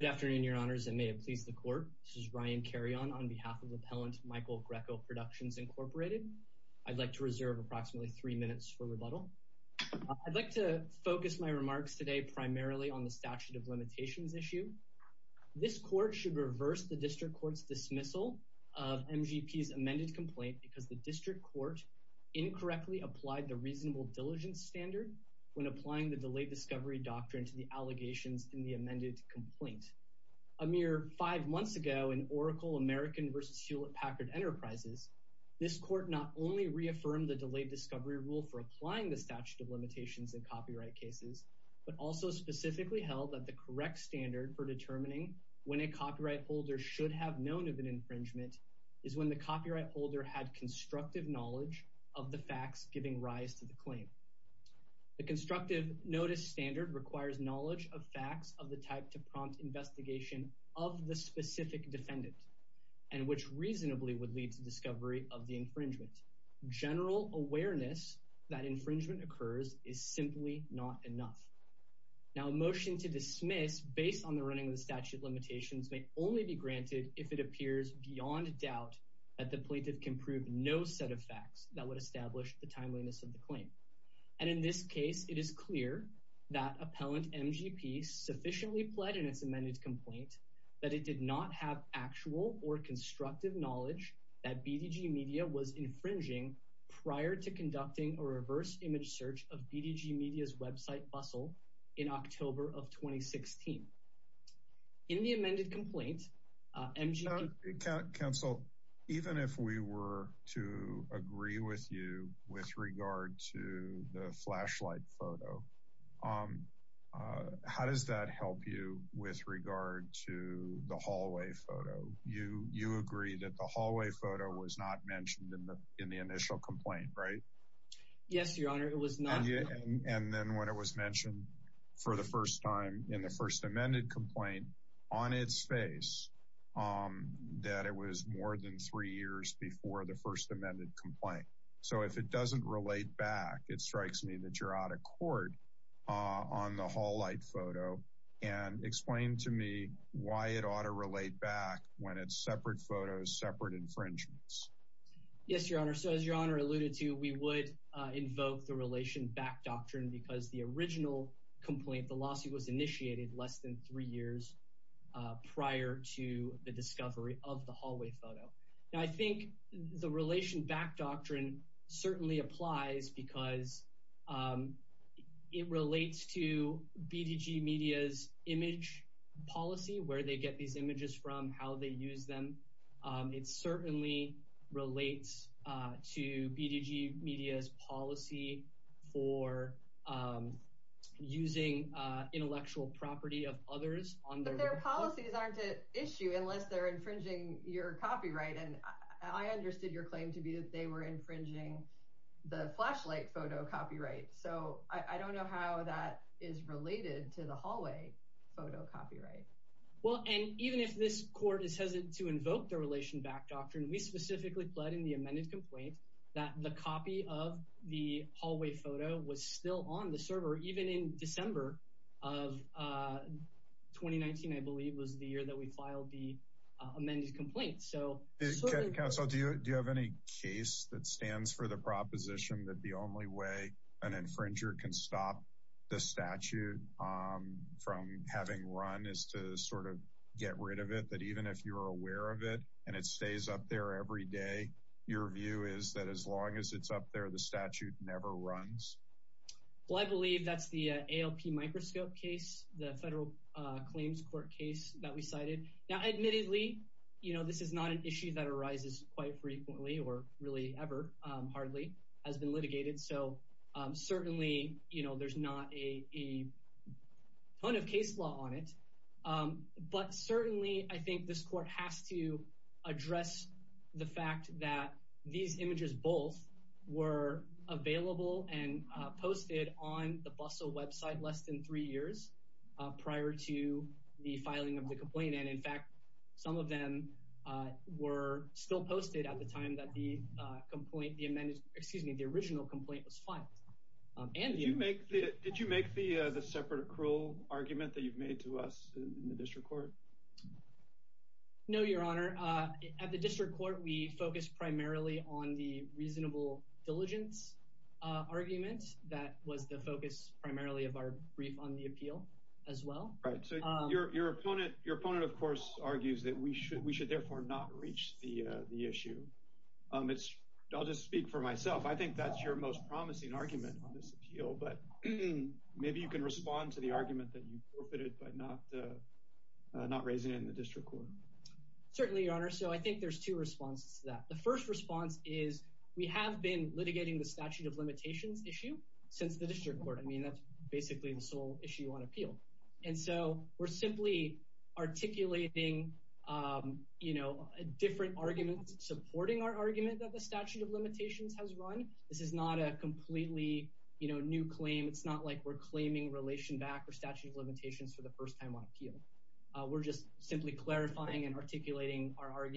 Good afternoon, Your Honors, and may it please the Court. This is Ryan Carion on behalf of Appellant Michael Grecco Productions, Inc. I'd like to reserve approximately three minutes for rebuttal. I'd like to focus my remarks today primarily on the statute of limitations issue. This court should reverse the District Court's dismissal of MGP's amended complaint because the District Court incorrectly applied the reasonable diligence standard when A mere five months ago in Oracle American v. Hewlett-Packard Enterprises, this court not only reaffirmed the delayed discovery rule for applying the statute of limitations in copyright cases, but also specifically held that the correct standard for determining when a copyright holder should have known of an infringement is when the copyright holder had constructive knowledge of the facts giving rise to the claim. The constructive notice standard requires knowledge of facts of the type to prompt investigation of the specific defendant and which reasonably would lead to discovery of the infringement. General awareness that infringement occurs is simply not enough. Now a motion to dismiss based on the running of the statute of limitations may only be granted if it appears beyond doubt that the plaintiff can prove no set of facts that would establish the timeliness of the claim. And in this case it is clear that appellant MGP sufficiently pledged in its amended complaint that it did not have actual or constructive knowledge that BDG Media was infringing prior to conducting a reverse image search of BDG Media's website bustle in October of 2016. In the amended complaint, MGP... Counsel, even if we were to agree with you with regard to the flashlight photo, how does that help you with regard to the hallway photo? You agree that the hallway photo was not mentioned in the initial complaint, right? Yes, Your Honor, it was not. And then when it was mentioned for the first time in the that it was more than three years before the first amended complaint. So if it doesn't relate back, it strikes me that you're out of court on the hall light photo. And explain to me why it ought to relate back when it's separate photos, separate infringements. Yes, Your Honor. So as Your Honor alluded to, we would invoke the relation back doctrine because the original complaint, the hallway photo. Now I think the relation back doctrine certainly applies because it relates to BDG Media's image policy, where they get these images from, how they use them. It certainly relates to BDG Media's policy for using intellectual property of others. But their policies aren't an issue unless they're infringing your copyright. And I understood your claim to be that they were infringing the flashlight photo copyright. So I don't know how that is related to the hallway photo copyright. Well, and even if this court is hesitant to invoke the relation back doctrine, we specifically pled in the amended complaint that the copy of the hallway photo was still on the server, even in the amended complaint. So... Counsel, do you have any case that stands for the proposition that the only way an infringer can stop the statute from having run is to sort of get rid of it? That even if you're aware of it and it stays up there every day, your view is that as long as it's up there, the statute never runs? Well, I believe that's the ALP microscope case, the federal claims court case that we cited. Now admittedly, you know, this is not an issue that arises quite frequently or really ever, hardly, has been litigated. So certainly, you know, there's not a ton of case law on it. But certainly, I think this court has to address the fact that these images both were available and posted on the BUSL website less than three years prior to the filing of the complaint. And in fact, some of them were still posted at the time that the complaint, the amended, excuse me, the original complaint was filed. And... Did you make the separate accrual argument that you've made to us in the district court? No, your honor. At the district court, we focused primarily on the reasonable diligence argument. That was the focus primarily of our brief on the appeal as well. Right. So your opponent, of course, argues that we should therefore not reach the issue. I'll just speak for myself. I think that's your most promising argument on this appeal. But maybe you can respond to the argument that you forfeited by not raising it in the district court. Certainly, your honor. So I think there's two responses to that. The first response is we have been litigating the statute of limitations issue since the district court. I mean, that's basically the sole issue on appeal. And so we're simply articulating, you know, different arguments supporting our argument that the statute of limitations has run. This is not a completely, you know, new claim. It's not like we're claiming relation back or statute of limitations for the first time on appeal. We're just simply clarifying and articulating our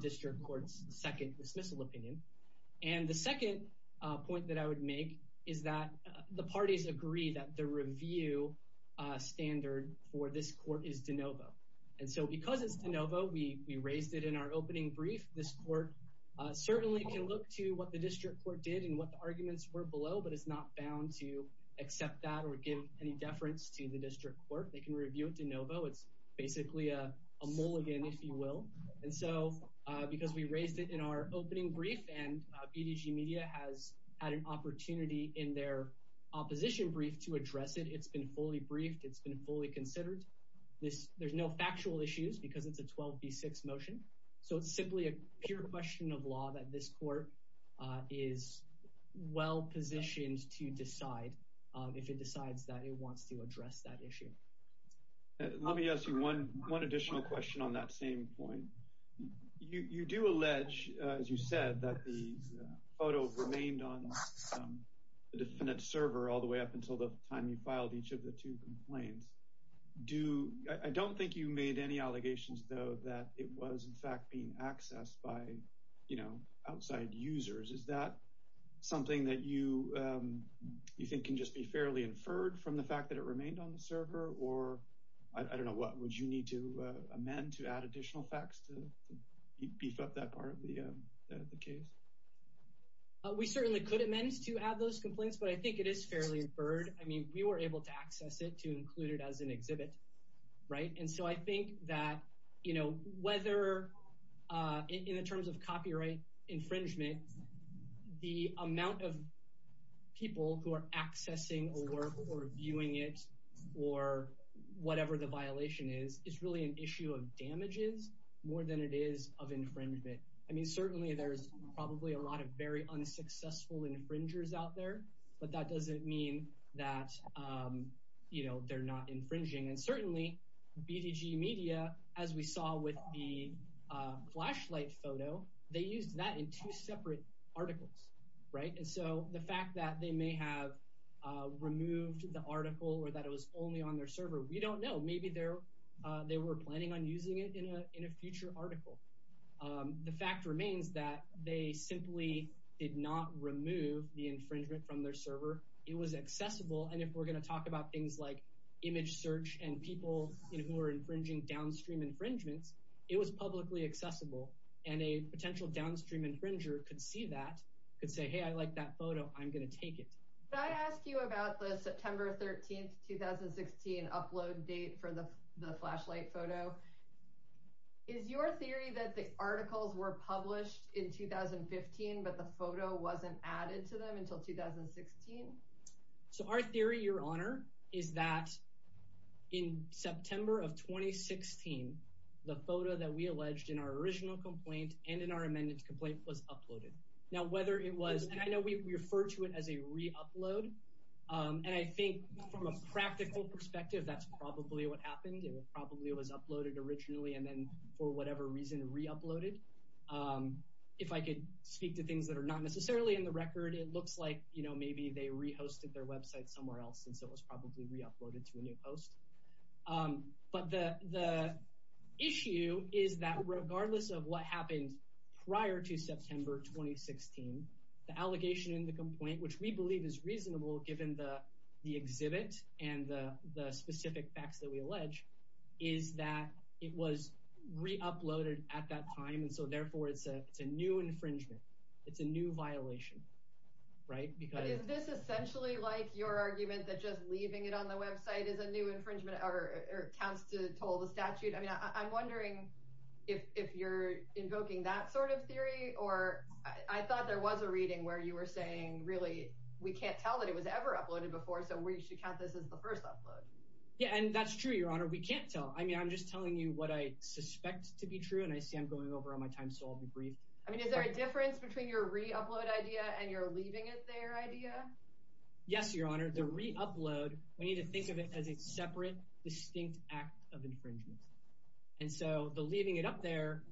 district court's second dismissal opinion. And the second point that I would make is that the parties agree that the review standard for this court is de novo. And so because it's de novo, we raised it in our opening brief. This court certainly can look to what the district court did and what the arguments were below, but it's not bound to accept that or give any deference to the district court. They can review it de novo. It's basically a mulligan, if you will. And so because we raised it in our opening brief and BDG Media has had an opportunity in their opposition brief to address it, it's been fully briefed. It's been fully considered. There's no factual issues because it's a 12B6 motion. So it's simply a pure question of law that this court is well positioned to decide if it decides that it wants to address that issue. Let me ask you one additional question on that same point. You do allege, as you said, that the photo remained on the defendant's server all the way up until the time you filed each of the two complaints. I don't think you made any allegations, though, that it was in fact being accessed by outside users. Is that something that you think can just be fairly inferred from the fact that it remained on the server? Or I don't know, what would you need to amend to add additional facts to beef up that part of the case? We certainly could amend to add those complaints, but I think it is fairly inferred. I mean, we were able to access it to include it as an exhibit. Right. And so I think that, you know, whether in terms of copyright infringement, the or whatever the violation is, it's really an issue of damages more than it is of infringement. I mean, certainly there's probably a lot of very unsuccessful infringers out there, but that doesn't mean that, you know, they're not infringing. And certainly, BDG Media, as we saw with the flashlight photo, they used that in two separate articles. Right. And so the fact that they may have removed the article or that it was only on their server, we don't know. Maybe they were planning on using it in a future article. The fact remains that they simply did not remove the infringement from their server. It was accessible. And if we're going to talk about things like image search and people who are infringing downstream infringements, it was publicly accessible. And a potential downstream infringer could see that, could say, hey, I like that photo. I'm going to take it. Can I ask you about the September 13th, 2016, upload date for the flashlight photo? Is your theory that the articles were published in 2015, but the photo wasn't added to them until 2016? So our theory, Your Honor, is that in September of 2016, the photo that we alleged in our original complaint and in our amended complaint was uploaded. Now, whether it was, and I know we refer to it as a re-upload, and I think from a practical perspective, that's probably what happened. It probably was uploaded originally and then, for whatever reason, re-uploaded. If I could speak to things that are not necessarily in the record, it looks like, you know, maybe they re-hosted their website somewhere else since it was probably re-uploaded to a new post. But the issue is that regardless of what happened prior to the allegation in the complaint, which we believe is reasonable given the exhibit and the specific facts that we allege, is that it was re-uploaded at that time, and so therefore it's a new infringement. It's a new violation, right? But is this essentially like your argument that just leaving it on the website is a new infringement or counts to toll the statute? I mean, I'm reading where you were saying, really, we can't tell that it was ever uploaded before, so we should count this as the first upload. Yeah, and that's true, Your Honor. We can't tell. I mean, I'm just telling you what I suspect to be true, and I see I'm going over on my time, so I'll be brief. I mean, is there a difference between your re-upload idea and your leaving it there idea? Yes, Your Honor. The re-upload, we need to think of it as a separate, distinct act of infringement. And so the leaving it up there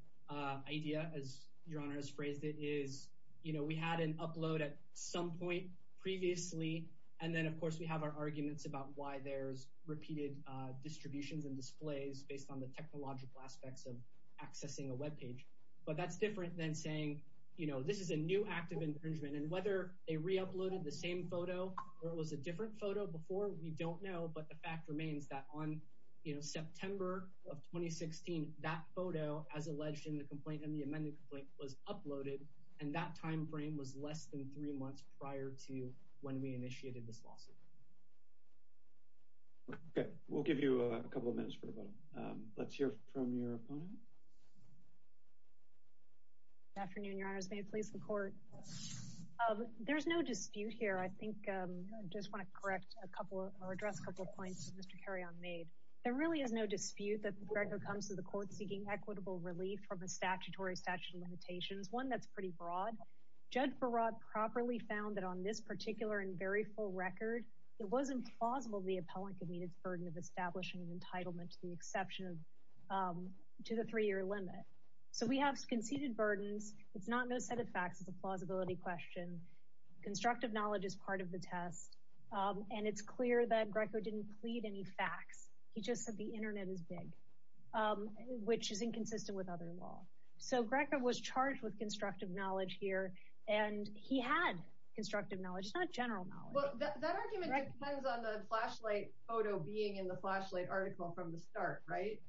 idea, as Your Honor has phrased it, is, you know, we had an upload at some point previously, and then, of course, we have our arguments about why there's repeated distributions and displays based on the technological aspects of accessing a web page. But that's different than saying, you know, this is a new act of infringement, and whether they re-uploaded the same photo or it was a different photo before, we don't know, but the fact remains that on, you know, September of 2016, that photo, as you know, was taken, and that time frame was less than three months prior to when we initiated this lawsuit. Okay, we'll give you a couple of minutes for the bottom. Let's hear from your opponent. Good afternoon, Your Honors. May it please the Court? There's no dispute here. I think I just want to correct a couple or address a couple of points that Mr. Carrion made. There really is no dispute that the record comes to the Court seeking equitable relief from the fraud. Judge Barad properly found that on this particular and very full record, it wasn't plausible the appellant could meet its burden of establishing an entitlement to the three-year limit. So we have conceded burdens. It's not no set of facts. It's a plausibility question. Constructive knowledge is part of the test, and it's clear that Greco didn't plead any facts. He just said the Internet is big, which is inconsistent with other law. So Greco was charged with constructive knowledge here, and he had constructive knowledge. It's not general knowledge. Well, that argument depends on the flashlight photo being in the flashlight article from the start, right?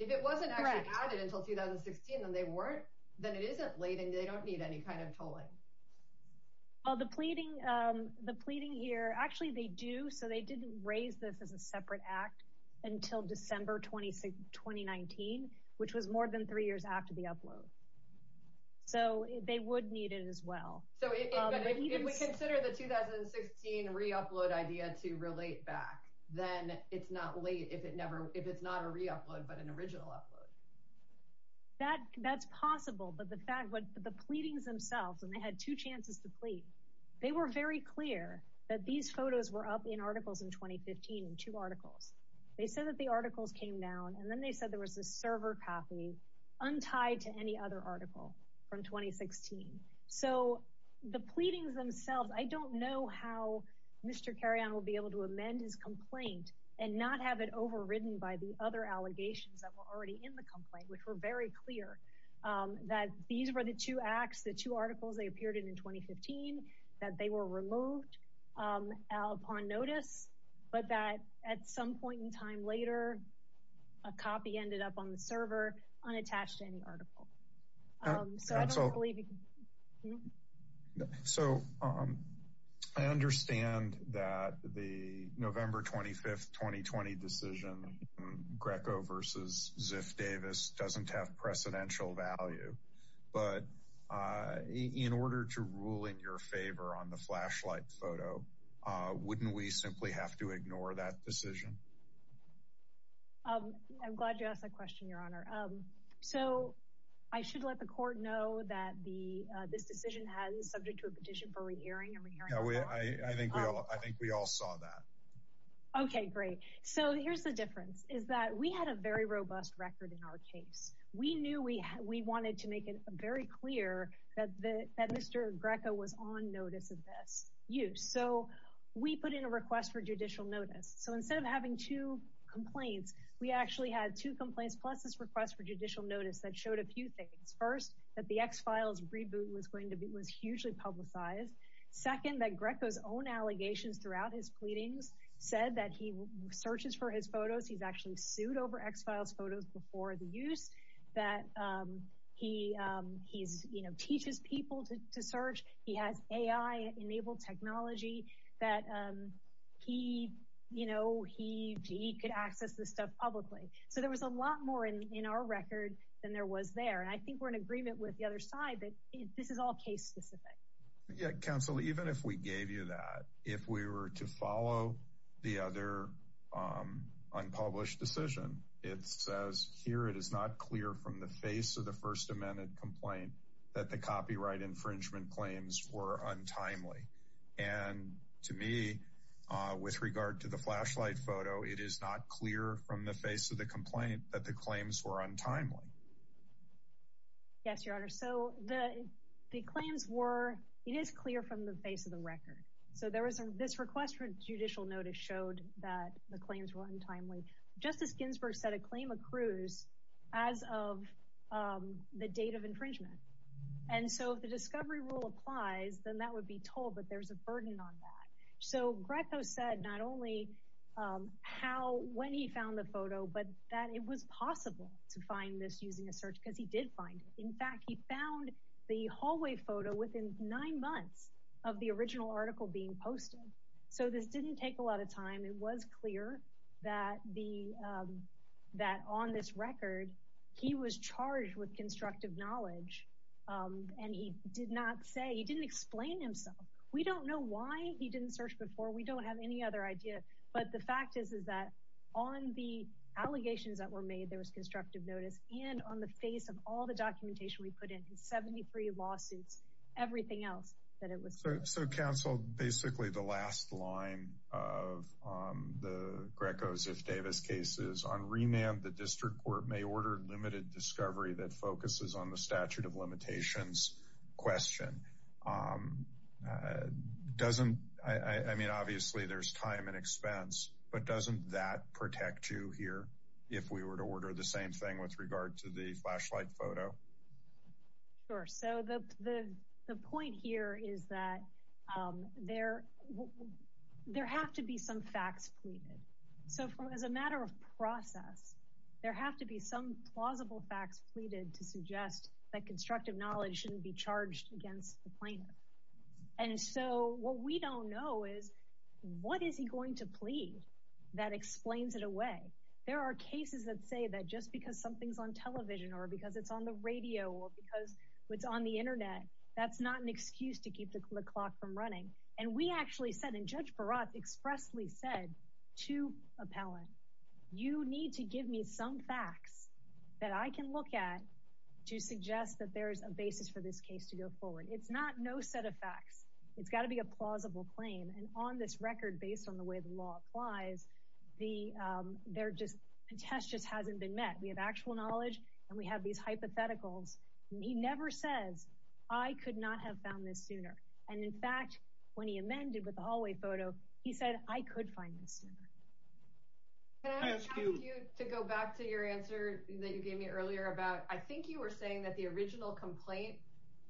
If it wasn't actually added until 2016 and they weren't, then it isn't laden. They don't need any kind of tolling. Well, the pleading here, actually they do, so they didn't raise this as a separate act until December 2019, which was more than three years after the so they would need it as well. So if we consider the 2016 reupload idea to relate back, then it's not late if it's not a reupload, but an original upload. That's possible, but the fact that the pleadings themselves, and they had two chances to plead, they were very clear that these photos were up in articles in 2015, in two articles. They said that the articles came down, and then they said there was a server copy untied to any other article from 2016. So the pleadings themselves, I don't know how Mr. Carrion will be able to amend his complaint and not have it overridden by the other allegations that were already in the complaint, which were very clear that these were the two acts, the two articles they appeared in in 2015, that they were removed upon notice, but that at some point in time later, a copy ended up on the server, unattached to any article. So I don't believe you can... So I understand that the November 25th, 2020 decision, Greco versus Ziff Davis, doesn't have precedential value. But in order to rule in your favor on the flashlight photo, wouldn't we simply have to ignore that decision? I'm glad you asked that question, Your Honor. So I should let the court know that this decision has been subject to a petition for re-hearing and re-hearing... Yeah, I think we all saw that. Okay, great. So here's the difference, is that we had a very robust record in our case. We knew we wanted to make it very clear that Mr. Greco was on notice of this. So we put in a request for judicial notice. So instead of having two complaints, we actually had two complaints, plus this request for judicial notice that showed a few things. First, that the X-Files reboot was hugely publicized. Second, that Greco's own allegations throughout his pleadings said that he searches for his photos, he's actually sued over X-Files photos before the use, that he teaches people to search, he has AI-enabled technology, that he could access this stuff publicly. So there was a lot more in our record than there was there. And I think we're in agreement with the other side that this is all case-specific. Yeah, counsel, even if we gave you that, if we were to follow the other unpublished decision, it says here, it is not clear from the face of the First Amendment complaint that the copyright infringement claims were untimely. And to me, with regard to the flashlight photo, it is not clear from the face of the complaint that the claims were untimely. Yes, Your Honor. So the claims were, it is clear from the face of the record. So this request for judicial notice showed that the claims were untimely. Justice Ginsburg said a claim accrues as of the date of infringement. And so if the discovery rule applies, then that would be told, but there's a burden on that. So Greco said not only how, when he found the photo, but that it was possible to find this using a search, because he did find it. In fact, he found the hallway photo within nine months of the original article being posted. So this didn't take a lot of time. It was clear that on this record, he was charged with constructive knowledge. And he did not say, he didn't explain himself. We don't know why he didn't search before. We don't have any other idea. But the fact is, is that on the allegations that were made, there was constructive notice. And on the face of all the documentation we put in, his 73 lawsuits, everything else that it was clear. So counsel, basically the last line of the Greco-Ziff-Davis case is, on remand, the district court may order limited discovery that focuses on the statute of limitations question. I mean, obviously there's time and expense, but doesn't that protect you here if we were to order the same thing with regard to the flashlight photo? Sure. So the point here is that there have to be some facts pleaded. So as a matter of process, there have to be some plausible facts pleaded to suggest that constructive knowledge shouldn't be charged against the plaintiff. And so what we don't know is, what is he going to plead that explains it away? There are cases that say that just because something's on television or because it's on the radio or because it's on the internet, that's not an excuse to keep the clock from running. And we actually said, and Judge Barat expressly said to appellant, you need to give me some facts that I can look at to suggest that there's a basis for this case to go forward. It's not no set of facts. It's got to be a plausible claim. And on this record, based on the way the law applies, the test just hasn't been met. We have actual knowledge and we have these hypotheticals. And he never says, I could not have found this sooner. And in fact, when he amended with the hallway photo, he said, I could find this sooner. Can I ask you to go back to your answer that you gave me earlier about, I think you were saying that the original complaint,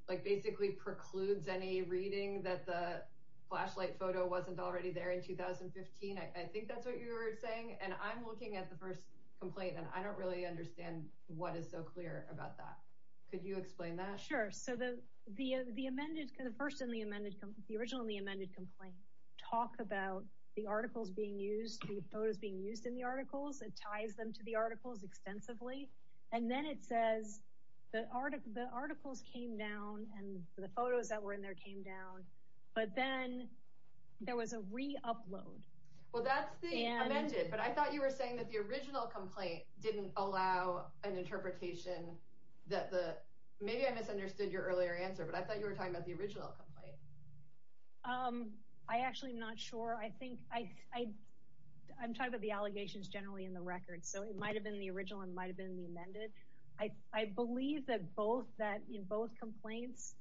like basically precludes any reading that the flashlight photo wasn't already there in 2015. I think that's what you were saying. And I'm looking at the first complaint and I don't really understand what is so clear about that. Could you explain that? Sure. So the amended, the first in the amended, the originally amended complaint, talk about the articles being used, the photos being used in the articles, it ties them to the articles extensively. And then it says the articles came down and the photos that were in there came down, but then there was a re-upload. Well, that's the amended, but I thought you were saying that the original complaint didn't allow an interpretation that the, maybe I misunderstood your earlier answer, but I thought you were talking about the original complaint. I actually am not sure. I think I'm talking about the allegations generally in the record. So it might've been the original and might've been the amended. I believe that both that in both complaints,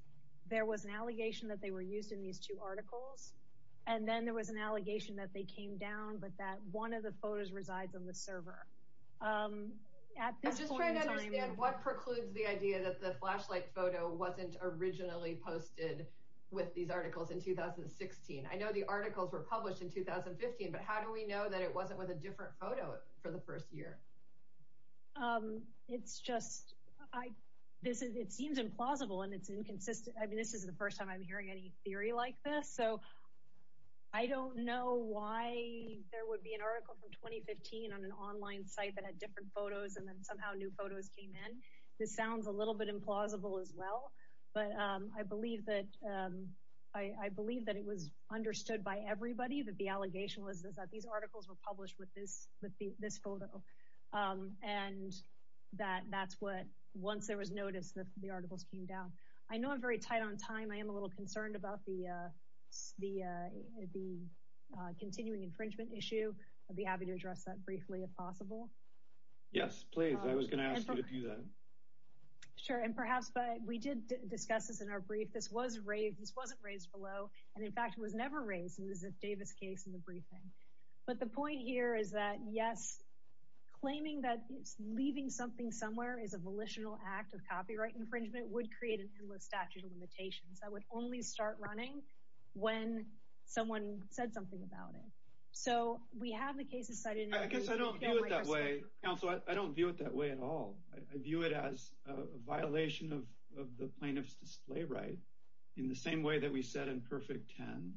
there was an allegation that they were used in these two articles. And then there was an allegation that they came down, but that one of the photos resides on the server. I'm just trying to understand what precludes the idea that the flashlight photo wasn't originally posted with these articles in 2016. I know the articles were published in 2015, but how do we know that it wasn't with a different photo for the first year? It's just, I, this is, it seems implausible and it's inconsistent. I mean, this is the first time I'm hearing any theory like this. So I don't know why there would be an article from 2015 on an online site that had different photos and then somehow new photos came in. This sounds a little bit implausible as well, but I believe that, I believe that it was understood by everybody that the allegation was that these articles were published with this, with this photo. And that that's what, once there was notice that the articles came down. I know I'm very tight on time. I am a little concerned about the continuing infringement issue. I'd be happy to address that briefly if possible. Yes, please. I was going to ask you to do that. Sure. And perhaps, but we did discuss this in our brief. This was raised, this wasn't raised below. And in fact, it was never raised. It was a Davis case in the briefing. But the point here is that, yes, claiming that it's leaving something somewhere is a volitional act of copyright infringement would create an endless statute of limitations that would only start running when someone said something about it. So we have the cases cited. I guess I don't view it that way. Counselor, I don't view it that way at all. I view it as a violation of the plaintiff's display right in the same way that we said in Perfect Ten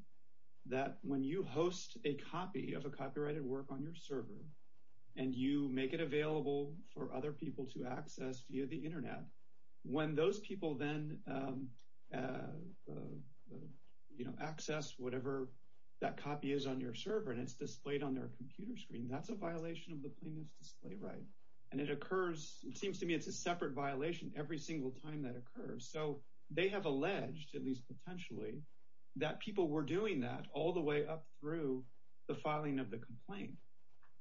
that when you host a copy of a copyrighted work on your server and you make it available for other people to access via the internet, when those people then access whatever that copy is on your server and it's displayed on their computer screen, that's a violation of the plaintiff's display right. And it occurs, it seems to me it's a separate violation every single time that occurs. So they have alleged, at least potentially, that people were doing that all the way up through the filing of the complaint.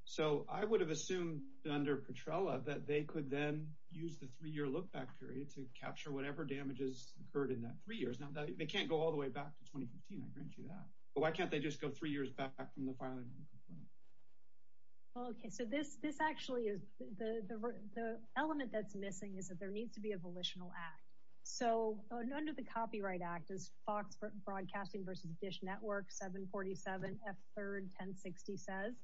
So I would have assumed under Petrella that they could then use the three-year look-back period to capture whatever damages occurred in that three years. Now they can't go all the way back to 2015, I grant you that. But why can't they just go three years back from the filing of the complaint? Okay, so this actually is, the element that's missing is that there needs to be a volitional act. So under the Copyright Act, as FOX Broadcasting versus Dish Network 747 F3rd 1060 says,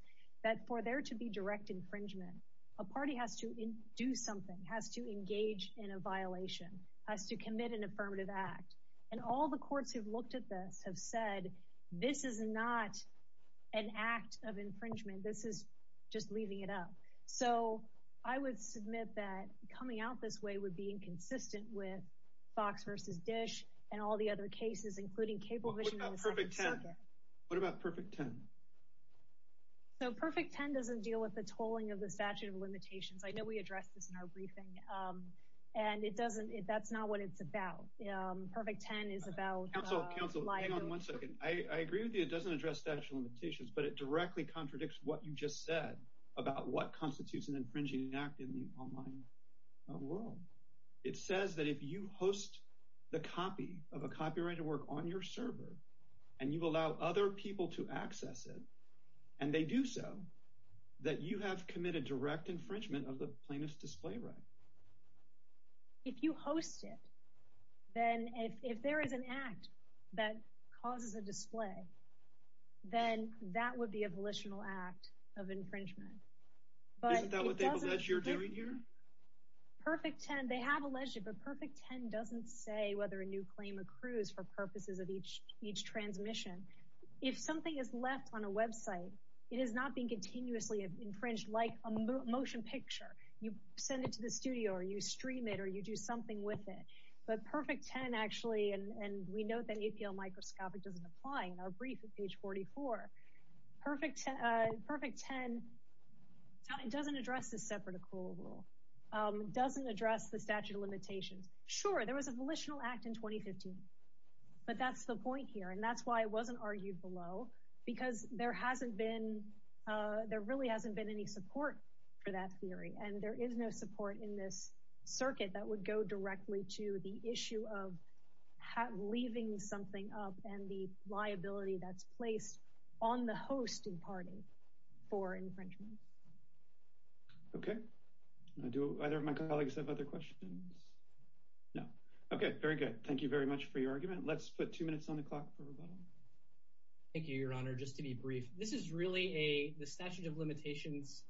that for there to be direct infringement, a party has to do something, has to engage in a violation, has to commit an affirmative act. And all the courts who've looked at this have said, this is not an act of infringement, this is just leaving it up. So I would submit that coming out this way would be inconsistent with FOX versus Dish and all the other cases, including cable vision. What about Perfect 10? So Perfect 10 doesn't deal with the tolling of the statute of limitations. I know we addressed this in our briefing, and it doesn't, that's not what it's about. Perfect 10 is about- Counsel, counsel, hang on one second. I agree with you, it doesn't address statute of limitations, but it directly contradicts what you just said about what constitutes an infringing act in the online world. It says that if you host the copy of a copyrighted work on your server, and you allow other people to access it, and they do so, that you have committed direct infringement of the plaintiff's display right. If you host it, then if there is an act that causes a display, then that would be a volitional act of infringement. Isn't that what they've alleged you're doing here? Perfect 10, they have alleged it, Perfect 10 doesn't say whether a new claim accrues for purposes of each transmission. If something is left on a website, it is not being continuously infringed like a motion picture. You send it to the studio, or you stream it, or you do something with it. But Perfect 10 actually, and we note that APL microscopic doesn't apply in our brief at page 44. Perfect 10 doesn't address the separate accrual rule, doesn't address the statute of limitations. Sure, there was a volitional act in 2015. But that's the point here. And that's why it wasn't argued below. Because there really hasn't been any support for that theory. And there is no support in this circuit that would go directly to the issue of leaving something up and the infringement. Okay. Do either of my colleagues have other questions? No. Okay, very good. Thank you very much for your argument. Let's put two minutes on the clock for rebuttal. Thank you, Your Honor. Just to be brief. This is really a the statute of limitations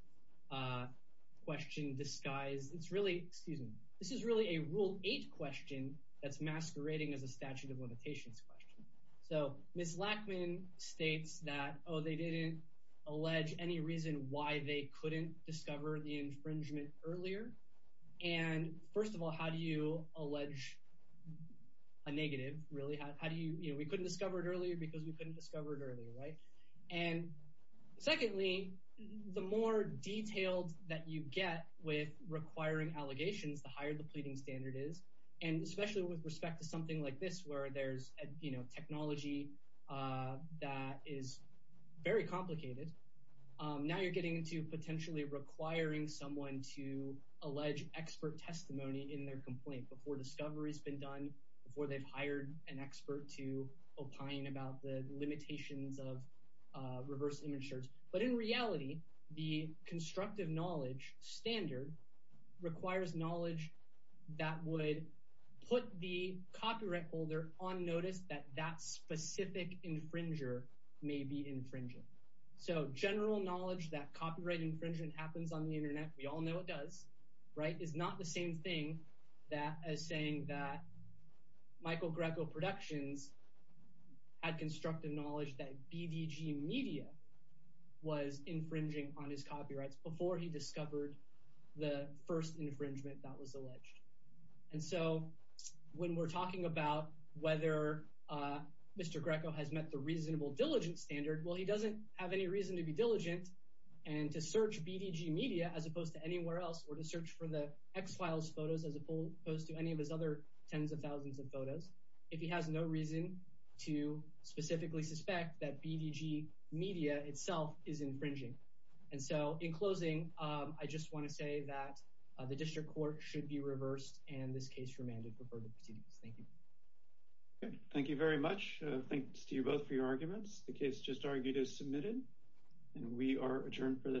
question disguise. It's really, excuse me, this is really a rule eight question that's masquerading as a statute of limitations question. So Ms. Lackman states that oh, they didn't allege any reason why they couldn't discover the infringement earlier. And first of all, how do you allege a negative really? How do you we couldn't discover it earlier because we couldn't discover it earlier, right? And secondly, the more detailed that you get with requiring allegations, the higher the pleading standard is. And especially with respect to something like this, where there's, you know, technology that is very complicated. Now you're getting into potentially requiring someone to allege expert testimony in their complaint before discovery has been done before they've hired an expert to opine about the limitations of reverse image search. But in reality, the constructive knowledge standard requires knowledge that would put the copyright holder on notice that that specific infringer may be infringing. So general knowledge that copyright infringement happens on the internet, we all know it does, right, is not the same thing that as saying that Michael Greco Productions had constructive knowledge that BDG Media was infringing on his copyrights before he discovered the first infringement that was when we're talking about whether Mr. Greco has met the reasonable diligence standard, well, he doesn't have any reason to be diligent and to search BDG Media as opposed to anywhere else or to search for the X-Files photos as opposed to any of his other tens of thousands of photos, if he has no reason to specifically suspect that BDG Media itself is infringing. And so in closing, I just want to say that the district court should be reversed and this case remanded for further proceedings. Thank you. Okay, thank you very much. Thanks to you both for your arguments. The case just argued is submitted and we are adjourned for the day.